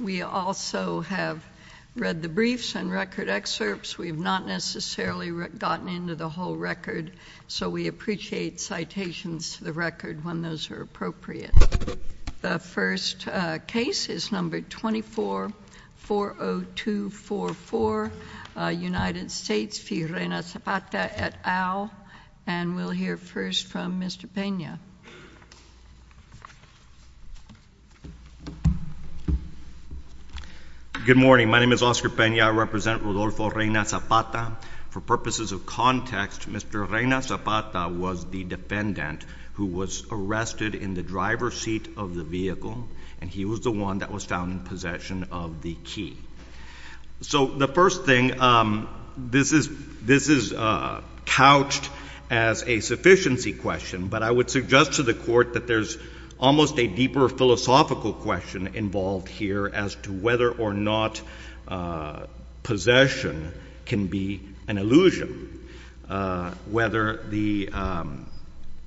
We also have read the briefs and record excerpts. We have not necessarily gotten into the whole record, so we appreciate citations to the record when those are appropriate. The first case is number 2440244, United States v. Reyna-Zapata et al. And we'll hear first from Mr. Pena. Good morning. My name is Oscar Pena. I represent Rodolfo Reyna-Zapata. For purposes of context, Mr. Reyna-Zapata was the defendant who was arrested in the driver's seat of the vehicle, and he was the one that was found in possession of the key. So the first thing, this is couched as a sufficiency question, but I would suggest to the Court that there's almost a deeper philosophical question involved here as to whether or not possession can be an illusion.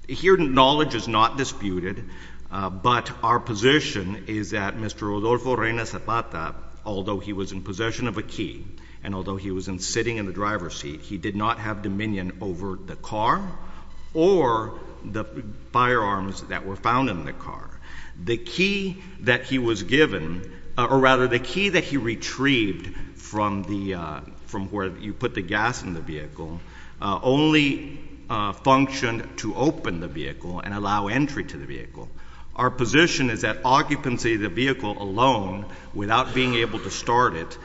Here knowledge is not disputed, but our position is that Mr. Rodolfo Reyna-Zapata, although he was in possession of a key and although he was sitting in the driver's seat, he did not have dominion over the car or the firearms that were found in the car. The key that he was given, or rather the key that he retrieved from where you put the gas in the vehicle, only functioned to open the vehicle and allow entry to the vehicle. Our position is that occupancy of the vehicle alone, without being able to start it,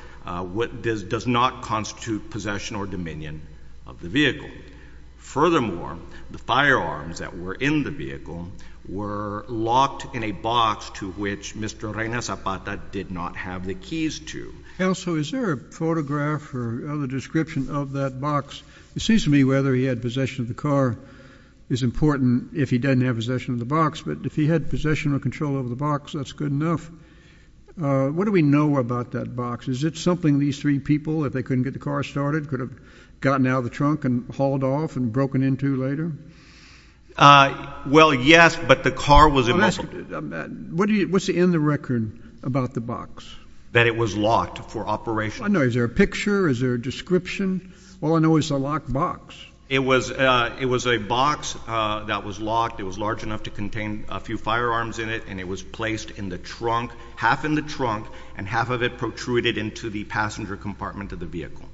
does not constitute possession or dominion of the vehicle. Furthermore, the firearms that were in the vehicle were locked in a box to which Mr. Reyna-Zapata did not have the keys to. JUSTICE KENNEDY Also, is there a photograph or other description of that box? It seems to me whether he had possession of the car is important if he didn't have possession of the box, but if he had possession or control over the box, that's good enough. What do we know about that box? Is it something these three people, if they couldn't get the car started, could have gotten out of the trunk and hauled off and broken into later? MR. REYNA-ZAPATA Well, yes, but the car was in the box. JUSTICE KENNEDY What's in the record about the box? MR. REYNA-ZAPATA That it was locked for operation. JUSTICE KENNEDY I know. Is there a picture? Is there a description? All I know is it's a locked box. REYNA-ZAPATA It was a box that was locked. It was large enough to contain a few firearms in it, and it was placed in the trunk, half in the trunk, and half of it protruded into the passenger compartment of the vehicle.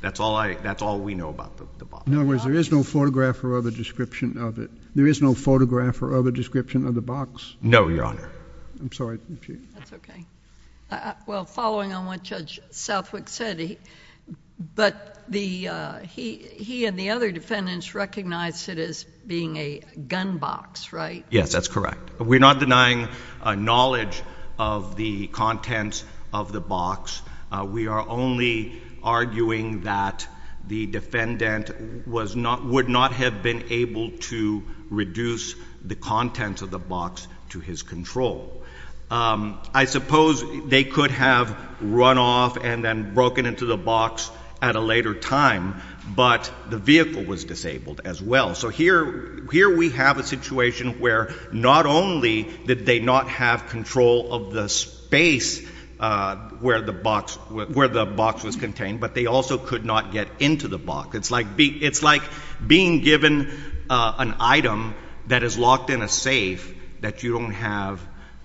That's all I, that's all we know about the box. JUSTICE KENNEDY In other words, there is no photograph or other description of it, there is no photograph or other description of the box? REYNA-ZAPATA No, Your Honor. JUSTICE KENNEDY I'm sorry. JUSTICE SOTOMAYOR That's okay. Well, following on what Judge Southwick said, but the, he and the other defendants recognized it as being a gun box, right? REYNA-ZAPATA Yes, that's correct. We're not denying knowledge of the contents of the box. We are only arguing that the defendant was not, would not have been able to reduce the contents of the box to his control. I suppose they could have run off and then broken into the box at a later time, but the vehicle was disabled as well. So here we have a situation where not only did they not have control of the space where the box was contained, but they also could not get into the box. It's like being given an item that is locked in a safe that you don't have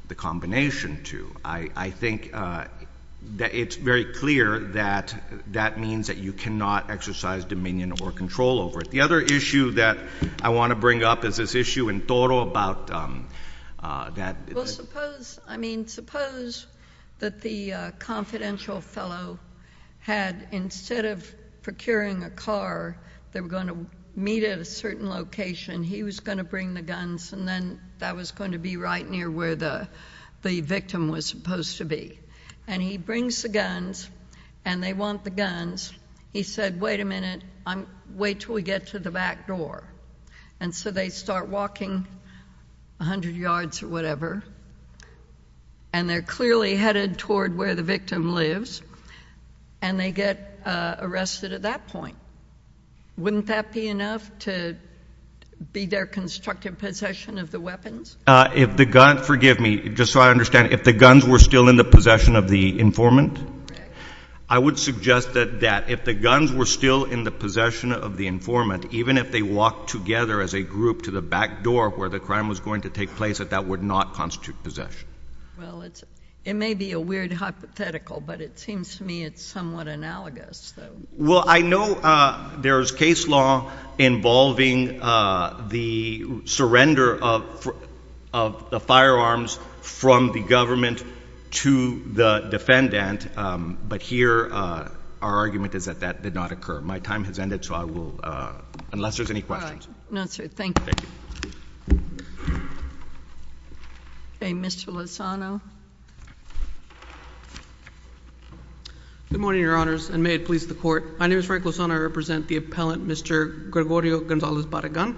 the combination to. I think that it's very clear that that means that you cannot exercise dominion or control over it. JUSTICE SOTOMAYOR The other issue that I want to bring up is this issue in Toro about that. REYNA-ZAPATA Well, suppose, I mean, suppose that the confidential fellow had, instead of procuring a car, they were going to meet at a certain location. He was going to bring the guns and then that was going to be right near where the victim was supposed to be. And he brings the guns and they want the guns. He said, wait a minute, wait till we get to the back door. And so they start walking 100 yards or whatever. And they're clearly headed toward where the victim lives. And they get arrested at that point. Wouldn't that be enough to be their constructive possession of the weapons? JUSTICE BREYER If the gun, forgive me, just so I understand, if the guns were still in the possession of the informant? REYNA-ZAPATA Correct. JUSTICE BREYER I would suggest that if the guns were still in the possession of the informant, even if they walked together as a group to the back door where the crime was going to take place, that that would not constitute possession. REYNA-ZAPATA Well, it's, it may be a weird hypothetical, but it seems to me it's somewhat analogous. JUSTICE BREYER Well, I know there's case law involving the surrender of the firearms from the government to the defendant. But here, our argument is that that did not occur. My time has ended, so I will, unless there's any questions. JUSTICE GINSBURG All right. No, sir. Thank you. JUSTICE GINSBURG Okay. Mr. Lozano. REYNA-ZAPATA Good morning, Your Honors, and may it please the Court. My name is Frank Lozano. I represent the appellant, Mr. Gregorio Gonzalez Barragan.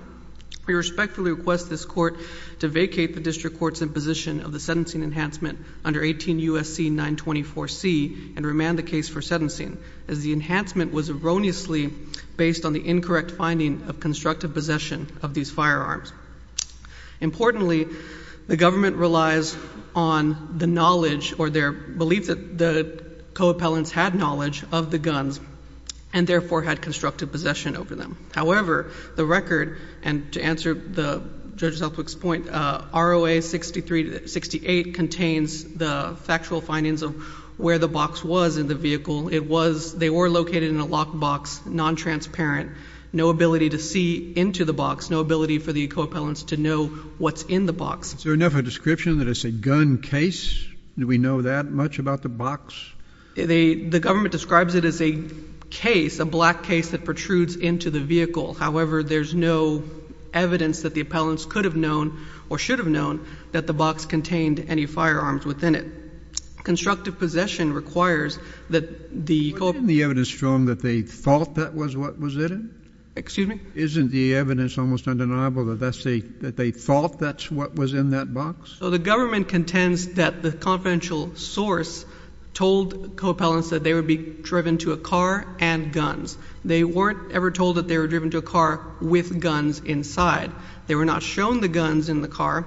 We respectfully request this Court to vacate the District Court's imposition of the sentencing enhancement under 18 U.S.C. 924C and remand the case for sentencing, as the enhancement was erroneously based on the incorrect finding of constructive possession of these firearms. Importantly, the government relies on the knowledge or their belief that the co-appellants had knowledge of the guns and therefore had constructive possession over them. However, the record, and to answer Judge Southwick's point, ROA 6368 contains the factual findings of where the box was in the vehicle. They were located in a locked box, non-transparent, no ability to see into the box, no ability for the co-appellants to know what's in the box. JUSTICE KENNEDY Is there enough of a description that it's a gun case? Do we know that much about the box? REYNA-ZAPATA The government describes it as a case, a black case, that protrudes into the vehicle. However, there's no evidence that the appellants could have known or should have known that the box contained any firearms within it. Constructive possession requires that the co-appellants... JUSTICE KENNEDY Wasn't the evidence shown that they thought that was what was in it? REYNA-ZAPATA Excuse me? JUSTICE KENNEDY Isn't the evidence almost undeniable that they thought that's what was in that box? REYNA-ZAPATA So the government contends that the confidential source told co-appellants that they would be driven to a car and guns. They weren't ever told that they were driven to a car with guns inside. They were not shown the guns in the car,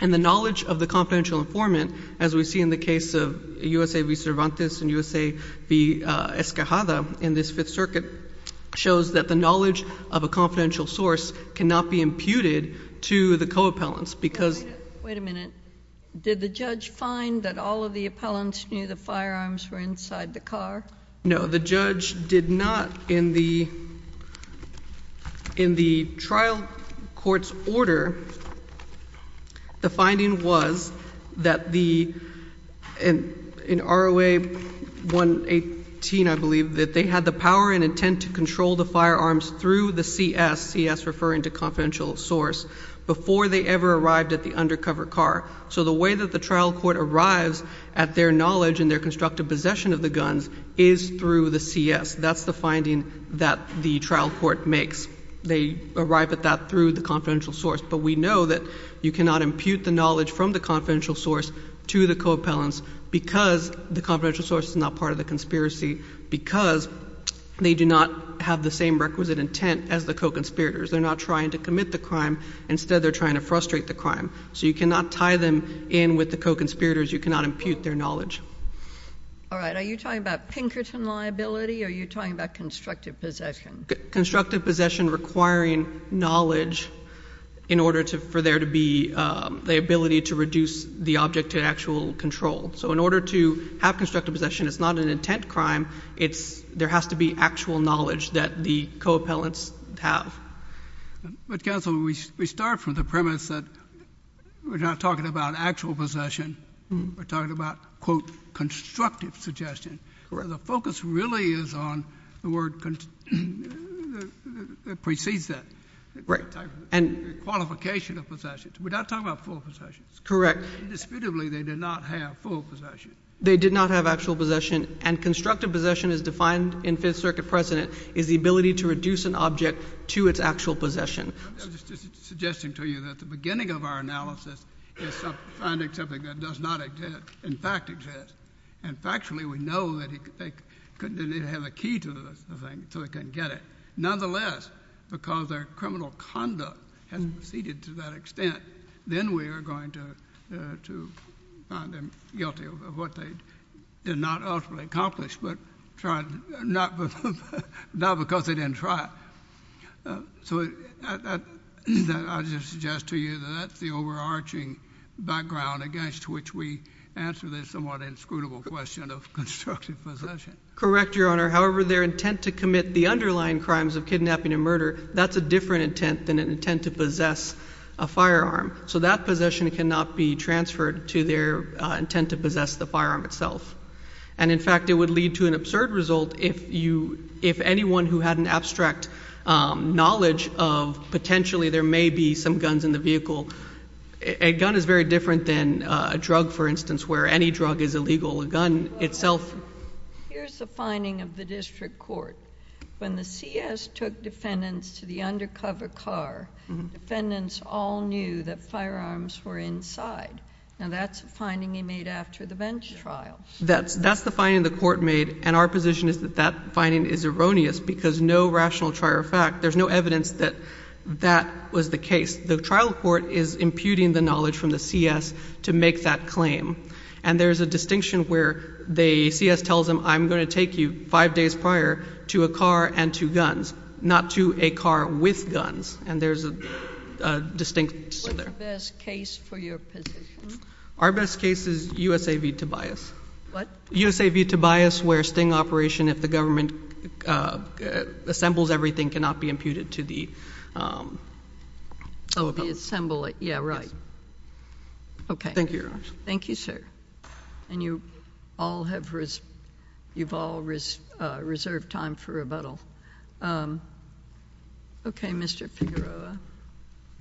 and the knowledge of the confidential informant, as we see in the case of U.S.A. v. Cervantes and U.S.A. v. Escajada in this Fifth Circuit, shows that the knowledge of a confidential source cannot be imputed to the co-appellants because... JUSTICE KENNEDY Wait a minute. Did the judge find that all of the appellants knew the firearms were inside the car? REYNA-ZAPATA No. The judge did not in the trial court's order. The finding was that the, in ROA 118, I believe, that they had the power and intent to control the firearms through the CS, CS referring to confidential source, before they ever arrived at the undercover car. So the way that the trial court arrives at their knowledge and their constructive possession of the guns is through the CS. That's the finding that the trial court makes. They arrive at that through the confidential source, but we know that you cannot impute the knowledge from the confidential source to the co-appellants because the confidential source is not part of the conspiracy, because they do not have the same requisite intent as the co-conspirators. They're not trying to commit the crime. Instead they're trying to frustrate the crime. So you cannot tie them in with the co-conspirators. You cannot impute their knowledge. JUSTICE KENNEDY All right. Are you talking about Pinkerton liability or are you talking about constructive possession? REYNA-ZAPATA Constructive possession requiring knowledge in order for there to be the ability to reduce the object to actual control. So in order to have constructive possession, it's not an intent crime. There has to be actual knowledge that the co-appellants have. JUSTICE KENNEDY But, counsel, we start from the premise that we're not talking about actual possession, we're talking about, quote, constructive suggestion. The focus really is on the word that precedes that, the qualification of possession. We're not talking about full possession. REYNA-ZAPATA Correct. JUSTICE KENNEDY Indisputably, they did not have full possession. REYNA-ZAPATA They did not have actual possession. And constructive possession, as defined in Fifth Circuit precedent, is the ability to reduce an object to its actual possession. JUSTICE KENNEDY I'm just suggesting to you that the beginning of our analysis is finding something that does not exist, in fact exists. And factually, we know that they couldn't have a key to the thing, so they couldn't get it. Nonetheless, because their criminal conduct has proceeded to that extent, then we are going to find them guilty of what they did not ultimately accomplish, but not because they didn't try. So I just suggest to you that that's the overarching background against which we answer this somewhat inscrutable question of constructive possession. REYNA-ZAPATA Correct, Your Honor. However, their intent to commit the underlying crimes of kidnapping and murder, that's a different intent than an intent to possess a firearm. So that possession cannot be transferred to their intent to possess the firearm itself. And in fact, it would lead to an absurd result if anyone who had an abstract knowledge of potentially there may be some guns in the vehicle, a gun is very different than a drug, for instance, where any drug is illegal, a gun itself... JUSTICE SOTOMAYOR Here's the finding of the district court. When the CS took defendants to the undercover car, defendants all knew that firearms were inside. Now, that's a finding they made after the bench trial. REYNA-ZAPATA That's the finding the court made, and our position is that that finding is erroneous because no rational trial fact, there's no evidence that that was the case. The trial court is imputing the knowledge from the CS to make that claim. And there's a distinction where the CS tells them, I'm going to take you five days prior to a car and to guns, not to a car with guns. And there's a distinction there. JUSTICE SOTOMAYOR What's the best case for your position? REYNA-ZAPATA Our best case is U.S.A. v. Tobias. JUSTICE SOTOMAYOR What? REYNA-ZAPATA U.S.A. v. Tobias, where sting operation, if the government assembles everything, cannot be imputed to the... JUSTICE SOTOMAYOR Oh, the assembly, yeah, right. REYNA-ZAPATA Yes. JUSTICE SOTOMAYOR Okay. REYNA-ZAPATA Thank you, Your Honor. JUSTICE SOTOMAYOR Thank you, sir. REYNA-ZAPATA And you all have... you've all reserved time for rebuttal. Okay, Mr. Figueroa. JUSTICE FIGUEROA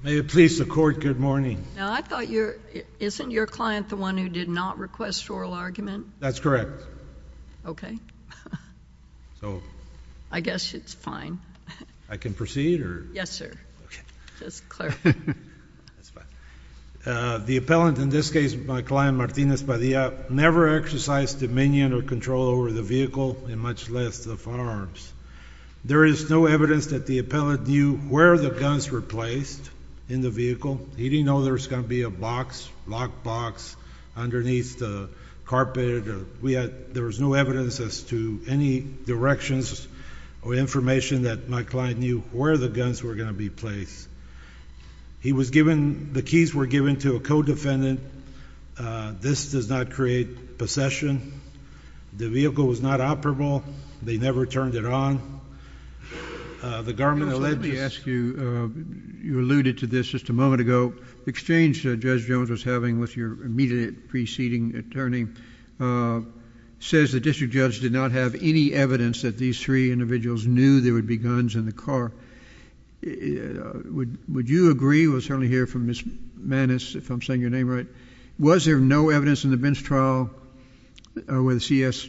May it please the Court, good morning. REYNA-ZAPATA Now, I thought your... isn't your client the one who did not request oral argument? JUSTICE FIGUEROA That's correct. REYNA-ZAPATA Okay. JUSTICE FIGUEROA So... REYNA-ZAPATA I guess it's fine. JUSTICE FIGUEROA I can proceed, or... REYNA-ZAPATA Yes, sir. JUSTICE FIGUEROA Okay. REYNA-ZAPATA Just clarifying. JUSTICE FIGUEROA That's fine. The appellant, in this case my client Martinez Padilla, never exercised dominion or control over the vehicle, and much less the firearms. There is no evidence that the appellant knew where the guns were placed in the vehicle. He didn't know there was going to be a box, locked box, underneath the carpet. We had... there was no evidence as to any directions or information that my client knew where the guns were going to be placed. He was given... the keys were given to a co-defendant. This does not create possession. The vehicle was not operable. They never turned it on. The government alleged... JUSTICE KENNEDY Let me ask you... you alluded to this just a moment ago. The exchange Judge Jones was having with your immediate preceding attorney says the district judge did not have any evidence that these three individuals knew there would be guns in the car. Would you agree? We'll certainly hear from Ms. Mannis, if I'm saying your name right. Was there no evidence in the bench trial where the C.S....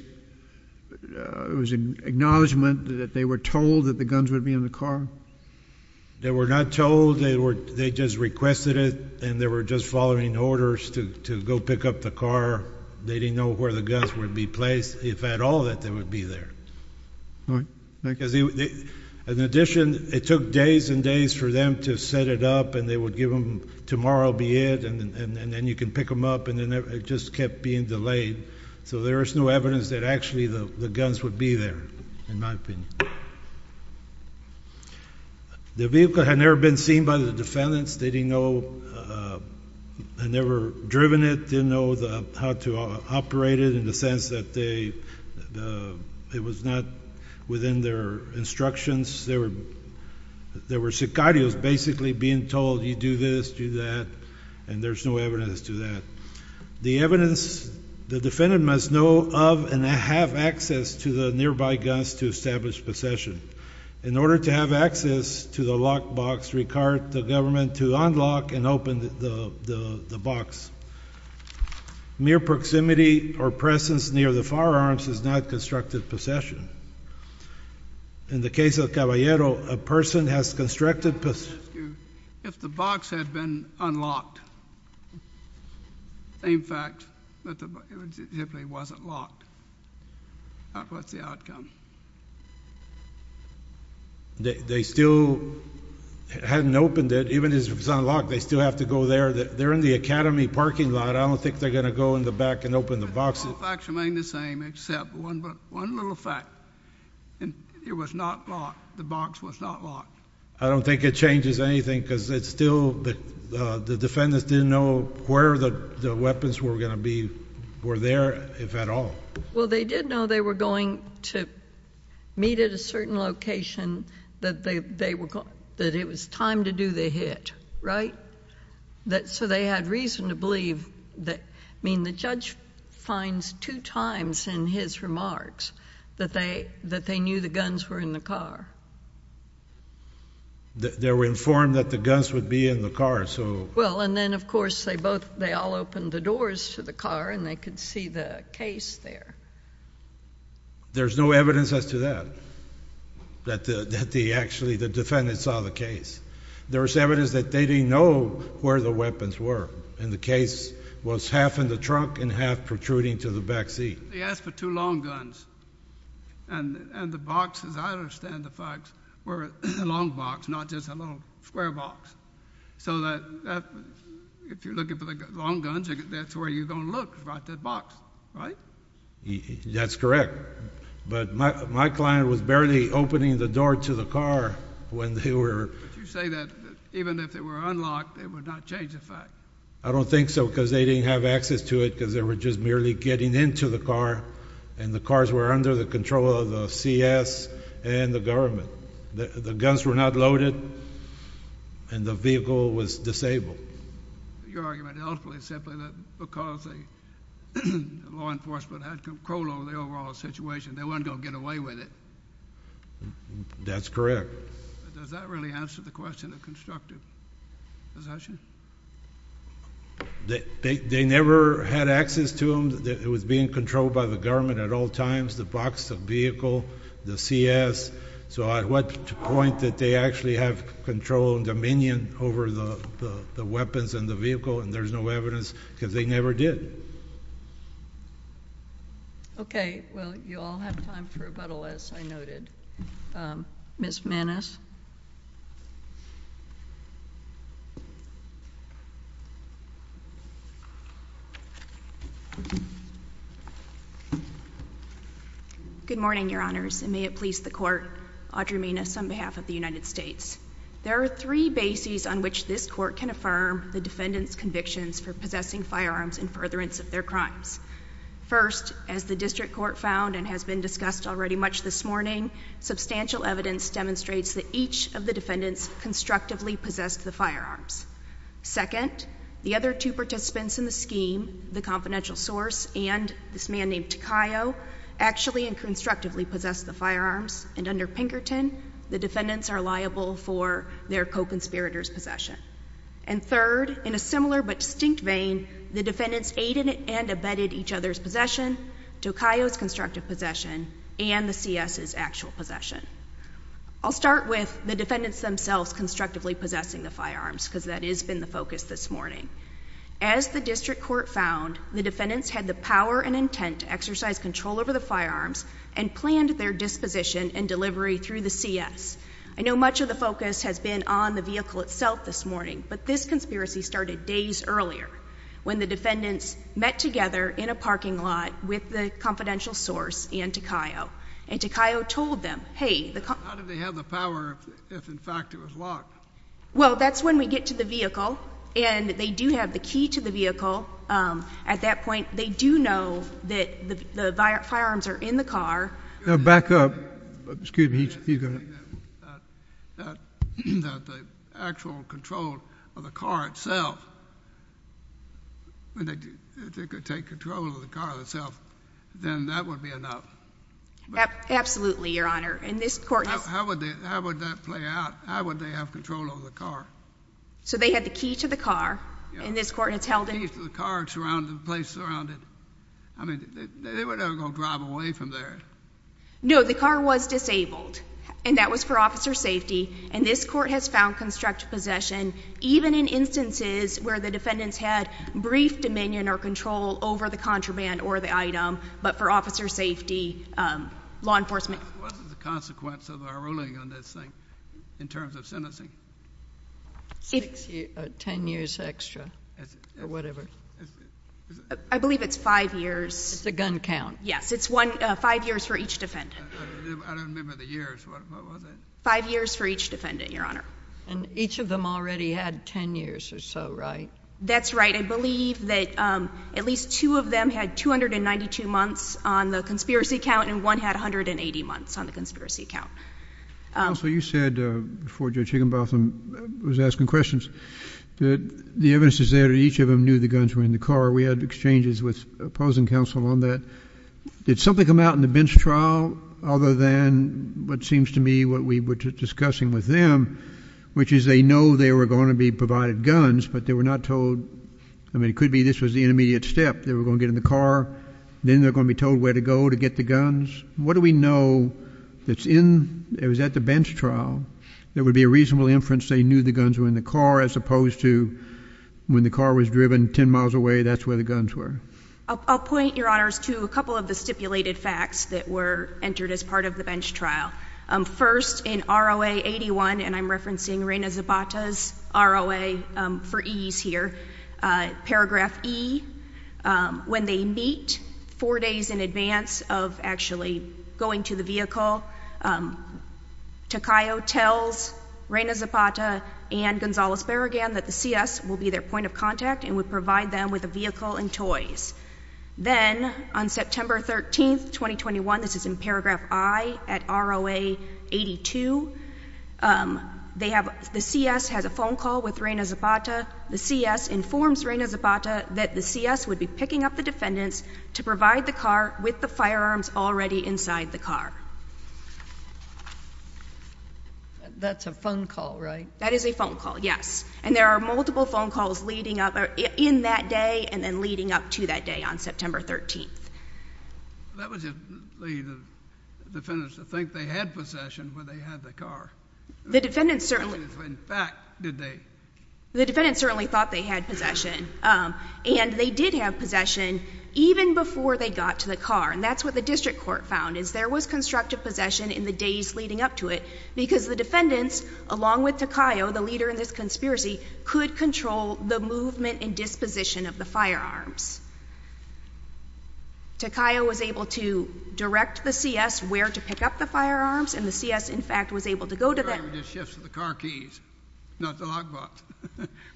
it was an acknowledgment that they were told that the guns would be in the car? MR. JONES They were not told. They were... they just requested it, and they were just following orders to go pick up the car. They didn't know where the guns would be placed. If at all that they would be there. JUSTICE KENNEDY All right. Thank you. MR. JONES Because in addition, it took days and days for them to set it up, and they would give them... tomorrow be it, and then you can pick them up, and it just kept being delayed. So there is no evidence that actually the guns would be there, in my opinion. The vehicle had never been seen by the defendants. They didn't know... had never driven it, didn't know how to operate it in the sense that they... it was not within their instructions. There were sicarios basically being told, you do this, do that, and there's no evidence to that. The evidence... the defendant must know of and have access to the nearby guns to establish possession. In order to have access to the locked box, required the government to unlock and open the box. Mere proximity or presence near the firearms is not constructed possession. In the case of Caballero, a person has constructed... MR. JONES If the box had been unlocked, in fact, it simply wasn't locked, that was the outcome. JONES They still hadn't opened it. Even if it was unlocked, they still have to go there. They're in the academy parking lot, I don't think they're going to go in the back and open the box. MR. JONES All facts remain the same except one little fact. It was not locked. The box was not locked. MR. JONES I don't think it changes anything because it's still... the defendants didn't know where the weapons were going to be... were there, if at all. WARREN Well, they did know they were going to meet at a certain location that they were going... that it was time to do the hit, right? So they had reason to believe that... I mean, the judge finds two times in his remarks that they knew the guns were in the car. MR. JONES They were informed that the guns would be in the car, so... WARREN Well, and then, of course, they both... they all opened the doors to the car and they could see the case there. JONES There's no evidence as to that, that actually the defendants saw the case. There's evidence that they didn't know where the weapons were, and the case was half in the trunk and half protruding to the back seat. MR. JONES They asked for two long guns, and the box, as I understand the facts, were a long box, not just a little square box. So that... if you're looking for the long guns, that's where you're going to look, right, that box, right? WARREN That's correct. But my client was barely opening the door to the car when they were... MR. JONES But you say that even if they were unlocked, it would not change the fact. WARREN I don't think so, because they didn't have access to it, because they were just merely getting into the car, and the cars were under the control of the C.S. and the government. The guns were not loaded, and the vehicle was disabled. MR. JONES Your argument ultimately is simply that because the law enforcement had control over the overall situation, they weren't going to get away with it. WARREN That's correct. MR. JONES But does that really answer the question of constructive possession? WARREN They never had access to them. It was being controlled by the government at all times, the box, the vehicle, the C.S. So at what point did they actually have control and dominion over the weapons and the vehicle? And there's no evidence, because they never did. MS. MANNES Good morning, Your Honors, and may it please the Court. Audrey Mannes on behalf of the United States. There are three bases on which this Court can affirm the defendant's convictions for possessing firearms in furtherance of their crimes. First, as the District Court found and has been discussed already much this morning, substantial evidence demonstrates that each of the defendants constructively possessed the firearms. Second, the other two participants in the scheme, the confidential source and this man named Takayo, actually and constructively possessed the firearms, and under Pinkerton, the defendants are liable for their co-conspirators' possession. And third, in a similar but distinct vein, the defendants aided and abetted each other's possession, Takayo's constructive possession, and the C.S.'s actual possession. I'll start with the defendants themselves constructively possessing the firearms, because that has been the focus this morning. As the District Court found, the defendants had the power and intent to exercise control over the firearms and planned their disposition and delivery through the C.S. I know much of the focus has been on the vehicle itself this morning, but this conspiracy started days earlier, when the defendants met together in a parking lot with the confidential source and Takayo. And Takayo told them, hey, the co- How did they have the power if in fact it was locked? Well, that's when we get to the vehicle, and they do have the key to the vehicle. At that point, they do know that the firearms are in the car. Back up. Excuse me. You go ahead. That the actual control of the car itself, when they could take control of the car itself, then that would be enough. Absolutely, Your Honor. And this court has- How would that play out? How would they have control over the car? So they had the key to the car, and this court has held it- The key to the car, it's surrounded, the place is surrounded. I mean, they were never going to drive away from there. No, the car was disabled, and that was for officer safety. And this court has found constructive possession, even in instances where the defendants had brief dominion or control over the contraband or the item, but for officer safety, law enforcement- What was the consequence of our ruling on this thing, in terms of sentencing? Six or ten years extra, or whatever. I believe it's five years. It's the gun count. Yes. It's five years for each defendant. I don't remember the years. What was it? Five years for each defendant, Your Honor. And each of them already had ten years or so, right? That's right. I believe that at least two of them had 292 months on the conspiracy count, and one had 180 months on the conspiracy count. Also, you said, before Judge Higginbotham was asking questions, that the evidence is that each of them knew the guns were in the car. We had exchanges with opposing counsel on that. Did something come out in the bench trial other than what seems to me what we were discussing with them, which is they know they were going to be provided guns, but they were not told- I mean, it could be this was the intermediate step. They were going to get in the car, then they're going to be told where to go to get the guns. What do we know that's in- Was that the bench trial? There would be a reasonable inference they knew the guns were in the car as opposed to when the car was driven ten miles away, that's where the guns were. I'll point, Your Honors, to a couple of the stipulated facts that were entered as part of the bench trial. First, in R.O.A. 81, and I'm referencing Reina Zabata's R.O.A. for ease here, paragraph E, when they meet four days in advance of actually going to the vehicle, Takayo tells Reina Zabata and Gonzalez-Barrigan that the C.S. will be their point of contact and would provide them with a vehicle and toys. Then, on September 13, 2021, this is in paragraph I at R.O.A. 82, the C.S. has a phone call with Reina Zabata. The C.S. informs Reina Zabata that the C.S. would be picking up the defendants to provide the car with the firearms already inside the car. That's a phone call, right? That is a phone call, yes. And there are multiple phone calls leading up in that day and then leading up to that day on September 13. That was if the defendants think they had possession where they had the car. The defendants certainly- In fact, did they? The defendants certainly thought they had possession. And they did have possession even before they got to the car. And that's what the district court found, is there was constructive possession in the days leading up to it because the defendants, along with Takayo, the leader in this conspiracy, could control the movement and disposition of the firearms. Takayo was able to direct the C.S. where to pick up the firearms and the C.S. in fact was able to go to them- The car just shifts to the car keys, not the lockbox.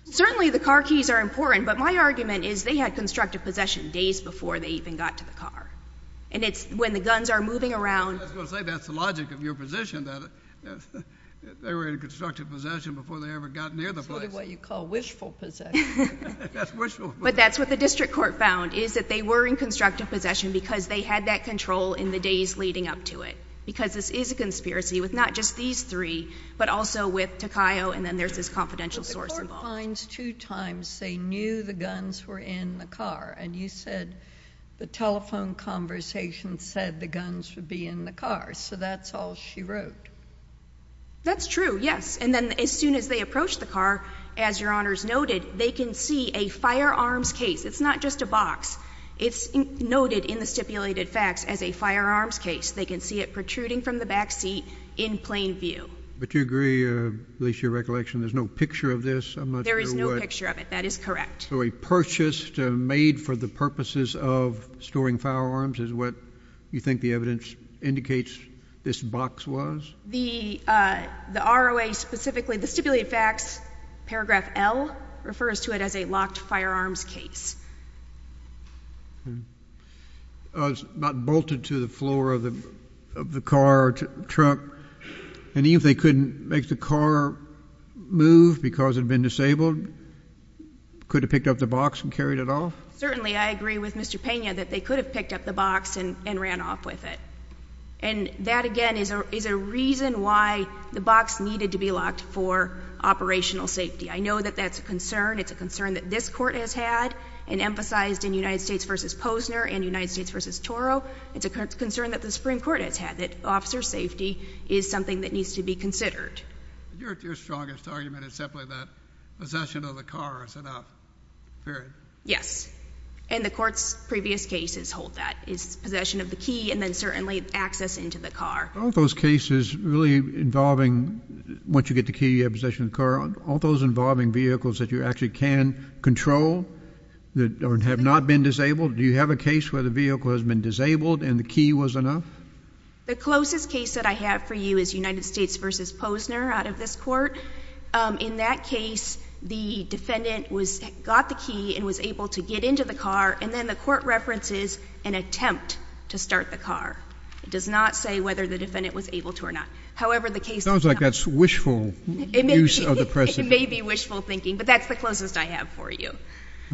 Certainly the car keys are important, but my argument is they had constructive possession days before they even got to the car. And it's when the guns are moving around- I was going to say that's the logic of your position, that they were in constructive possession before they ever got near the place. Sort of what you call wishful possession. That's wishful possession. But that's what the district court found, is that they were in constructive possession because they had that control in the days leading up to it. Because this is a conspiracy with not just these three, but also with Takayo and then there's this confidential source involved. But the court finds two times they knew the guns were in the car. And you said the telephone conversation said the guns would be in the car. So that's all she wrote. That's true, yes. And then as soon as they approached the car, as your honors noted, they can see a firearms case. It's not just a box. It's noted in the stipulated facts as a firearms case. They can see it protruding from the back seat in plain view. But do you agree, at least your recollection, there's no picture of this? There is no picture of it. That is correct. So a purchase made for the purposes of storing firearms is what you think the evidence indicates this box was? The ROA specifically, the stipulated facts, paragraph L, refers to it as a locked firearms case. It's not bolted to the floor of the car or truck. And even if they couldn't make the car move because it had been disabled, could have picked up the box and carried it off? Certainly, I agree with Mr. Pena that they could have picked up the box and ran off with it. And that, again, is a reason why the box needed to be locked for operational safety. I know that that's a concern. It's a concern that this court has had. And emphasized in United States v. Posner and United States v. Toro, it's a concern that the Supreme Court has had, that officer safety is something that needs to be considered. Your strongest argument is simply that possession of the car is enough, period? Yes. And the court's previous cases hold that. It's possession of the key and then certainly access into the car. Are all those cases really involving, once you get the key, you have possession of the car, are all those involving vehicles that you actually can control that have not been disabled? Do you have a case where the vehicle has been disabled and the key was enough? The closest case that I have for you is United States v. Posner out of this court. In that case, the defendant got the key and was able to get into the car, and then the court references an attempt to start the car. It does not say whether the defendant was able to or not. It sounds like that's wishful use of the precedent. It may be wishful thinking, but that's the closest I have for you.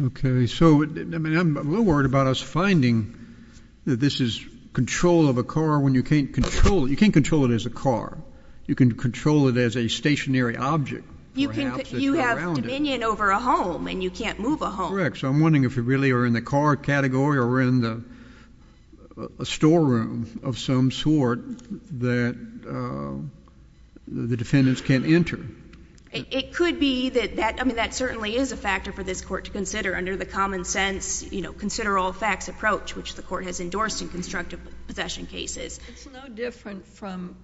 Okay. So I'm a little worried about us finding that this is control of a car when you can't control it. You can't control it as a car. You can control it as a stationary object, perhaps. You have dominion over a home, and you can't move a home. Correct. So I'm wondering if you really are in the car category or in the storeroom of some sort that the defendants can't enter. It could be that that certainly is a factor for this court to consider under the common sense, consider all facts approach, which the court has endorsed in constructive possession cases. It's no different from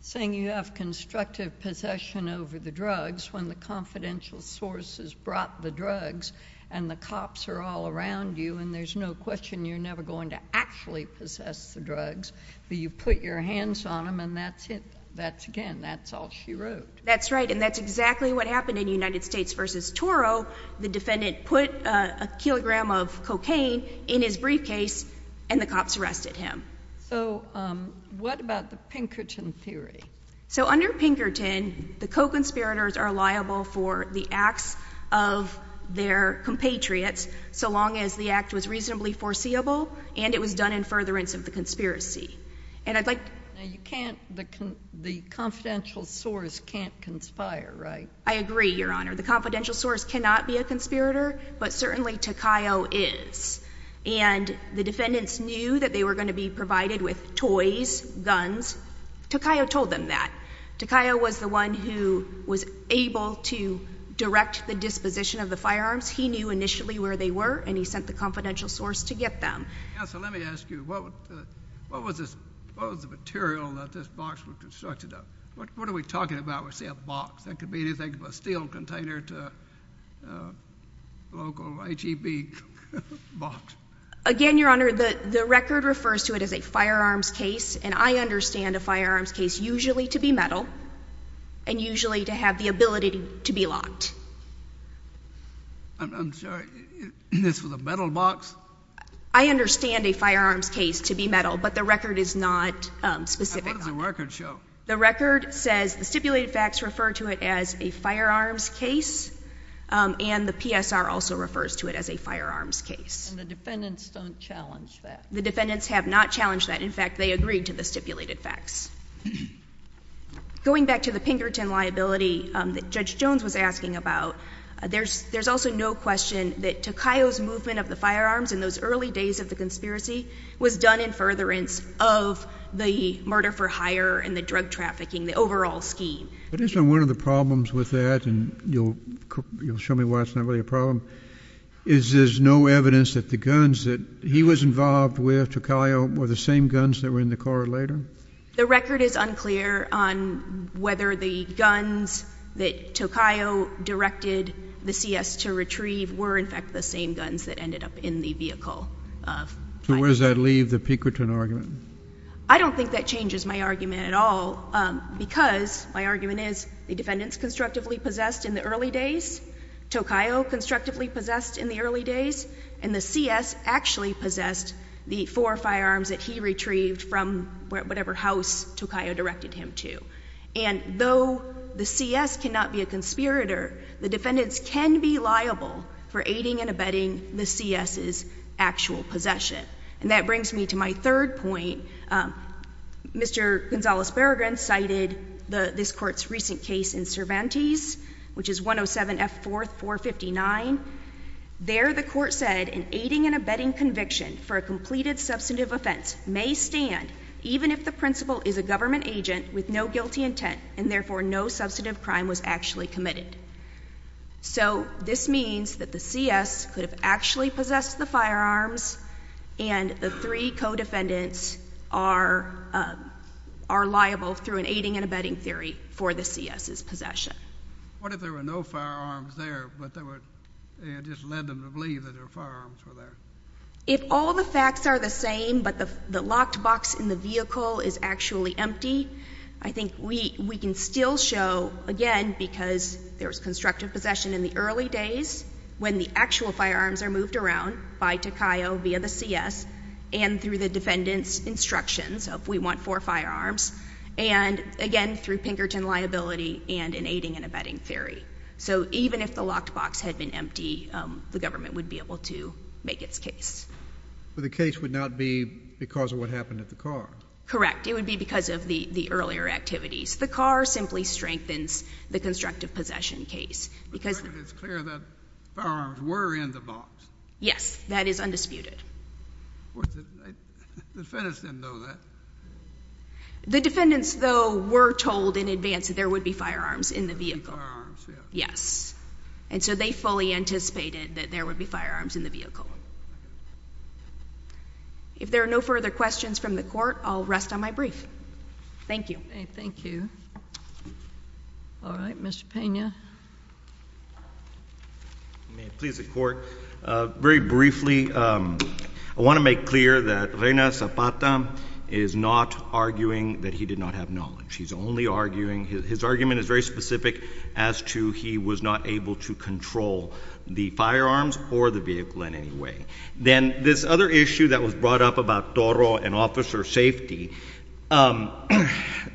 saying you have constructive possession over the drugs when the confidential source has brought the drugs and the cops are all around you, and there's no question you're never going to actually possess the drugs, but you put your hands on them, and that's it. That's, again, that's all she wrote. That's right, and that's exactly what happened in United States v. Toro. The defendant put a kilogram of cocaine in his briefcase, and the cops arrested him. So what about the Pinkerton theory? So under Pinkerton, the co-conspirators are liable for the acts of their compatriots so long as the act was reasonably foreseeable and it was done in furtherance of the conspiracy. And I'd like to... You can't, the confidential source can't conspire, right? I agree, Your Honor. The confidential source cannot be a conspirator, but certainly Takayo is. And the defendants knew that they were going to be provided with toys, guns. Takayo told them that. Takayo was the one who was able to direct the disposition of the firearms. He knew initially where they were, and he sent the confidential source to get them. Counsel, let me ask you, what was the material that this box was constructed of? What are we talking about when we say a box? That could be anything from a steel container to a local HEB box. Again, Your Honor, the record refers to it as a firearms case, and I understand a firearms case usually to be metal and usually to have the ability to be locked. I'm sorry, this was a metal box? I understand a firearms case to be metal, but the record is not specific. What does the record show? The record says the stipulated facts refer to it as a firearms case, and the PSR also refers to it as a firearms case. And the defendants don't challenge that? The defendants have not challenged that. In fact, they agreed to the stipulated facts. Going back to the Pinkerton liability that Judge Jones was asking about, there's also no question that Takayo's movement of the firearms in those early days of the conspiracy was done in furtherance of the murder for hire and the drug trafficking, the overall scheme. But isn't one of the problems with that, and you'll show me why it's not really a problem, is there's no evidence that the guns that he was involved with, Takayo, were the same guns that were in the car later? The record is unclear on whether the guns that Takayo directed the CS to retrieve were in fact the same guns that ended up in the vehicle of hire. So where does that leave the Pinkerton argument? I don't think that changes my argument at all, because my argument is the defendants constructively possessed in the early days, Takayo constructively possessed in the early days, and the CS actually possessed the four firearms that he retrieved from whatever house Takayo directed him to. And though the CS cannot be a conspirator, the defendants can be liable for aiding and abetting the CS's actual possession. And that brings me to my third point. Mr. Gonzalez-Berrigan cited this court's recent case in Cervantes, which is 107 F. 4th, 459. There the court said an aiding and abetting conviction for a completed substantive offense may stand even if the principal is a government agent with no guilty intent, and therefore no substantive crime was actually committed. So this means that the CS could have actually possessed the firearms, and the three co-defendants are liable through an aiding and abetting theory for the CS's possession. What if there were no firearms there, but it just led them to believe that there were firearms there? If all the facts are the same, but the locked box in the vehicle is actually empty, I think we can still show, again, because there was constructive possession in the early days, when the actual firearms are moved around by Takayo via the CS, and through the defendant's instructions of we want four firearms, and, again, through Pinkerton liability and an aiding and abetting theory. So even if the locked box had been empty, the government would be able to make its case. But the case would not be because of what happened at the car. Correct. It would be because of the earlier activities. The car simply strengthens the constructive possession case. But it's clear that the firearms were in the box. Yes. That is undisputed. The defendants didn't know that. The defendants, though, were told in advance that there would be firearms in the vehicle. And so they fully anticipated that there would be firearms in the vehicle. If there are no further questions from the court, I'll rest on my brief. Thank you. Thank you. All right. Mr. Pena. Please, the court. Very briefly, I want to make clear that Reina Zapata is not arguing that he did not have knowledge. He's only arguing, his argument is very specific, as to he was not able to control the firearms or the vehicle in any way. Then this other issue that was brought up about Toro and officer safety.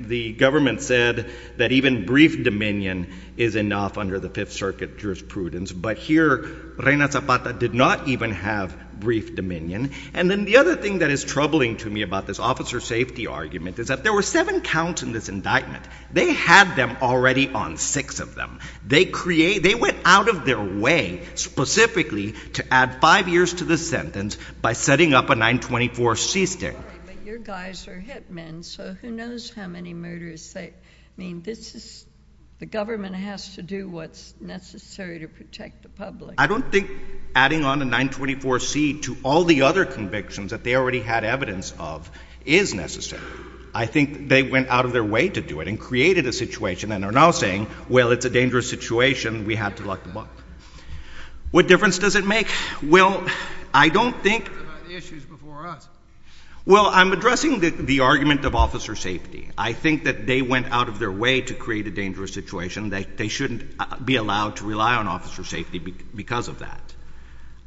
The government said that even brief dominion is enough under the Fifth Circuit jurisprudence. But here, Reina Zapata did not even have brief dominion. And then the other thing that is troubling to me about this officer safety argument is that there were seven counts in this indictment. They had them already on six of them. They went out of their way, specifically, to add five years to the sentence by setting up a 924C stick. But your guys are hit men, so who knows how many murders they... I mean, this is... The government has to do what's necessary to protect the public. I don't think adding on a 924C to all the other convictions that they already had evidence of is necessary. I think they went out of their way to do it and created a situation, and are now saying, well, it's a dangerous situation, we have to lock them up. What difference does it make? Well, I don't think... Well, I'm addressing the argument of officer safety. I think that they went out of their way to create a dangerous situation. They shouldn't be allowed to rely on officer safety because of that.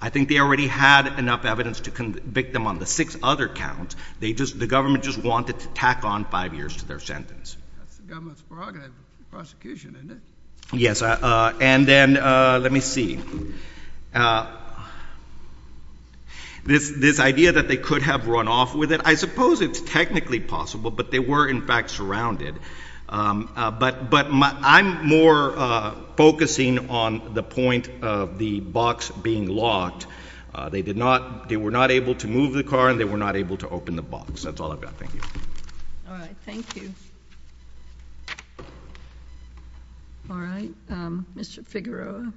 I think they already had enough evidence to convict them on the six other counts. The government just wanted to tack on five years to their sentence. That's the government's prerogative, the prosecution, isn't it? Yes, and then, let me see. This idea that they could have run off with it, I suppose it's technically possible, but they were, in fact, surrounded. But I'm more focusing on the point of the box being locked. They were not able to move the car and they were not able to open the box. That's all I've got. Thank you. All right, thank you. All right, Mr Figueroa.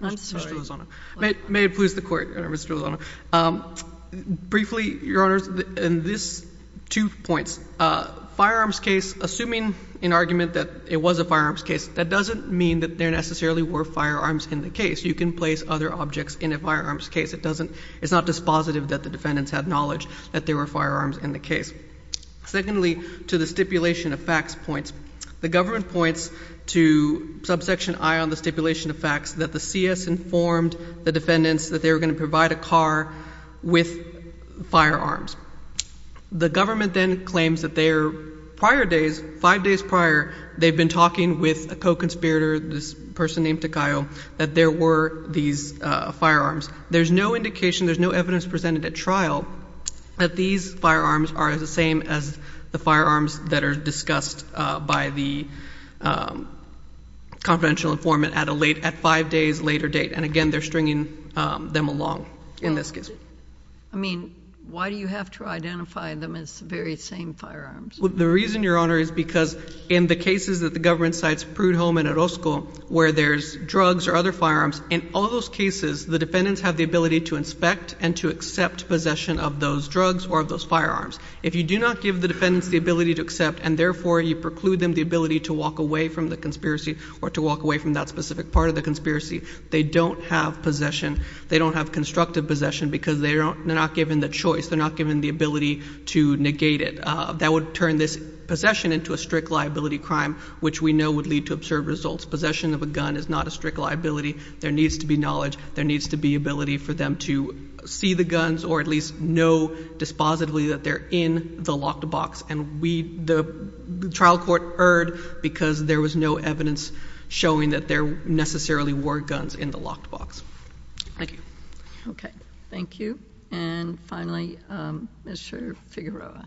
I'm sorry. May it please the Court, Mr Lozano. Briefly, Your Honours, in these two points, firearms case, assuming in argument that it was a firearms case, that doesn't mean that there necessarily were firearms in the case. You can place other objects in a firearms case. It's not dispositive that the defendants had knowledge that there were firearms in the case. Secondly, to the stipulation of facts points, the government points to subsection I on the stipulation of facts that the CS informed the defendants that they were going to provide a car with firearms. The government then claims that five days prior, they've been talking with a co-conspirator, this person named Takayo, that there were these firearms. There's no indication, there's no evidence presented at trial that these firearms are the same as the firearms that are discussed by the confidential informant at five days' later date. And again, they're stringing them along in this case. I mean, why do you have to identify them as the very same firearms? The reason, Your Honour, is because in the cases that the government cites Prudhomme and Orozco, where there's drugs or other firearms, in all those cases, the defendants have the ability to inspect and to accept possession of those drugs or of those firearms. If you do not give the defendants the ability to accept and therefore you preclude them the ability to walk away from the conspiracy or to walk away from that specific part of the conspiracy, they don't have possession. They don't have constructive possession because they're not given the choice. They're not given the ability to negate it. That would turn this possession into a strict liability crime, which we know would lead to absurd results. Possession of a gun is not a strict liability. There needs to be knowledge. There needs to be ability for them to see the guns or at least know dispositively that they're in the locked box. And the trial court erred because there was no evidence showing that there necessarily were guns in the locked box. Thank you. Okay. Thank you. And finally, Mr. Figueroa.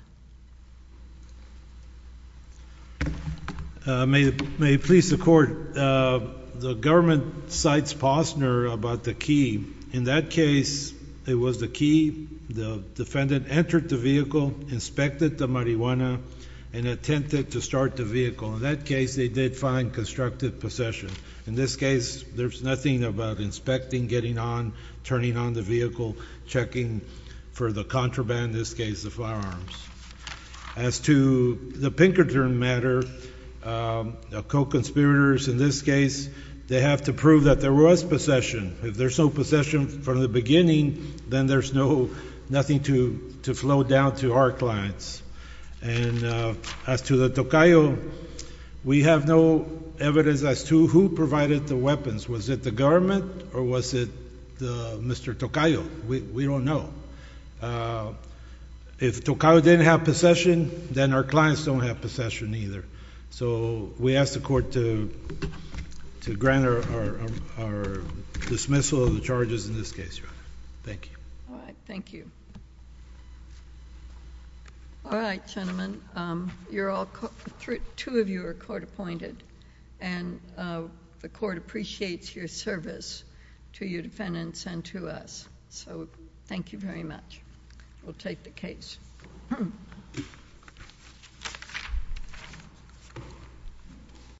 May it please the Court. The government cites Posner about the key. In that case, it was the key. The defendant entered the vehicle, inspected the marijuana, and attempted to start the vehicle. In that case, they did find constructive possession. In this case, there's nothing about inspecting, getting on, turning on the vehicle, checking for the contraband, in this case the firearms. As to the Pinkerton matter, the co-conspirators in this case, they have to prove that there was possession. If there's no possession from the beginning, then there's nothing to flow down to our clients. And as to the Tocayo, we have no evidence as to who provided the weapons. Was it the government or was it Mr. Tocayo? We don't know. If Tocayo didn't have possession, then our clients don't have possession either. So we ask the Court to grant our dismissal of the charges in this case, Your Honor. Thank you. All right. Thank you. All right, gentlemen. Two of you are court appointed, and the Court appreciates your service to your defendants and to us. So thank you very much. We'll take the case.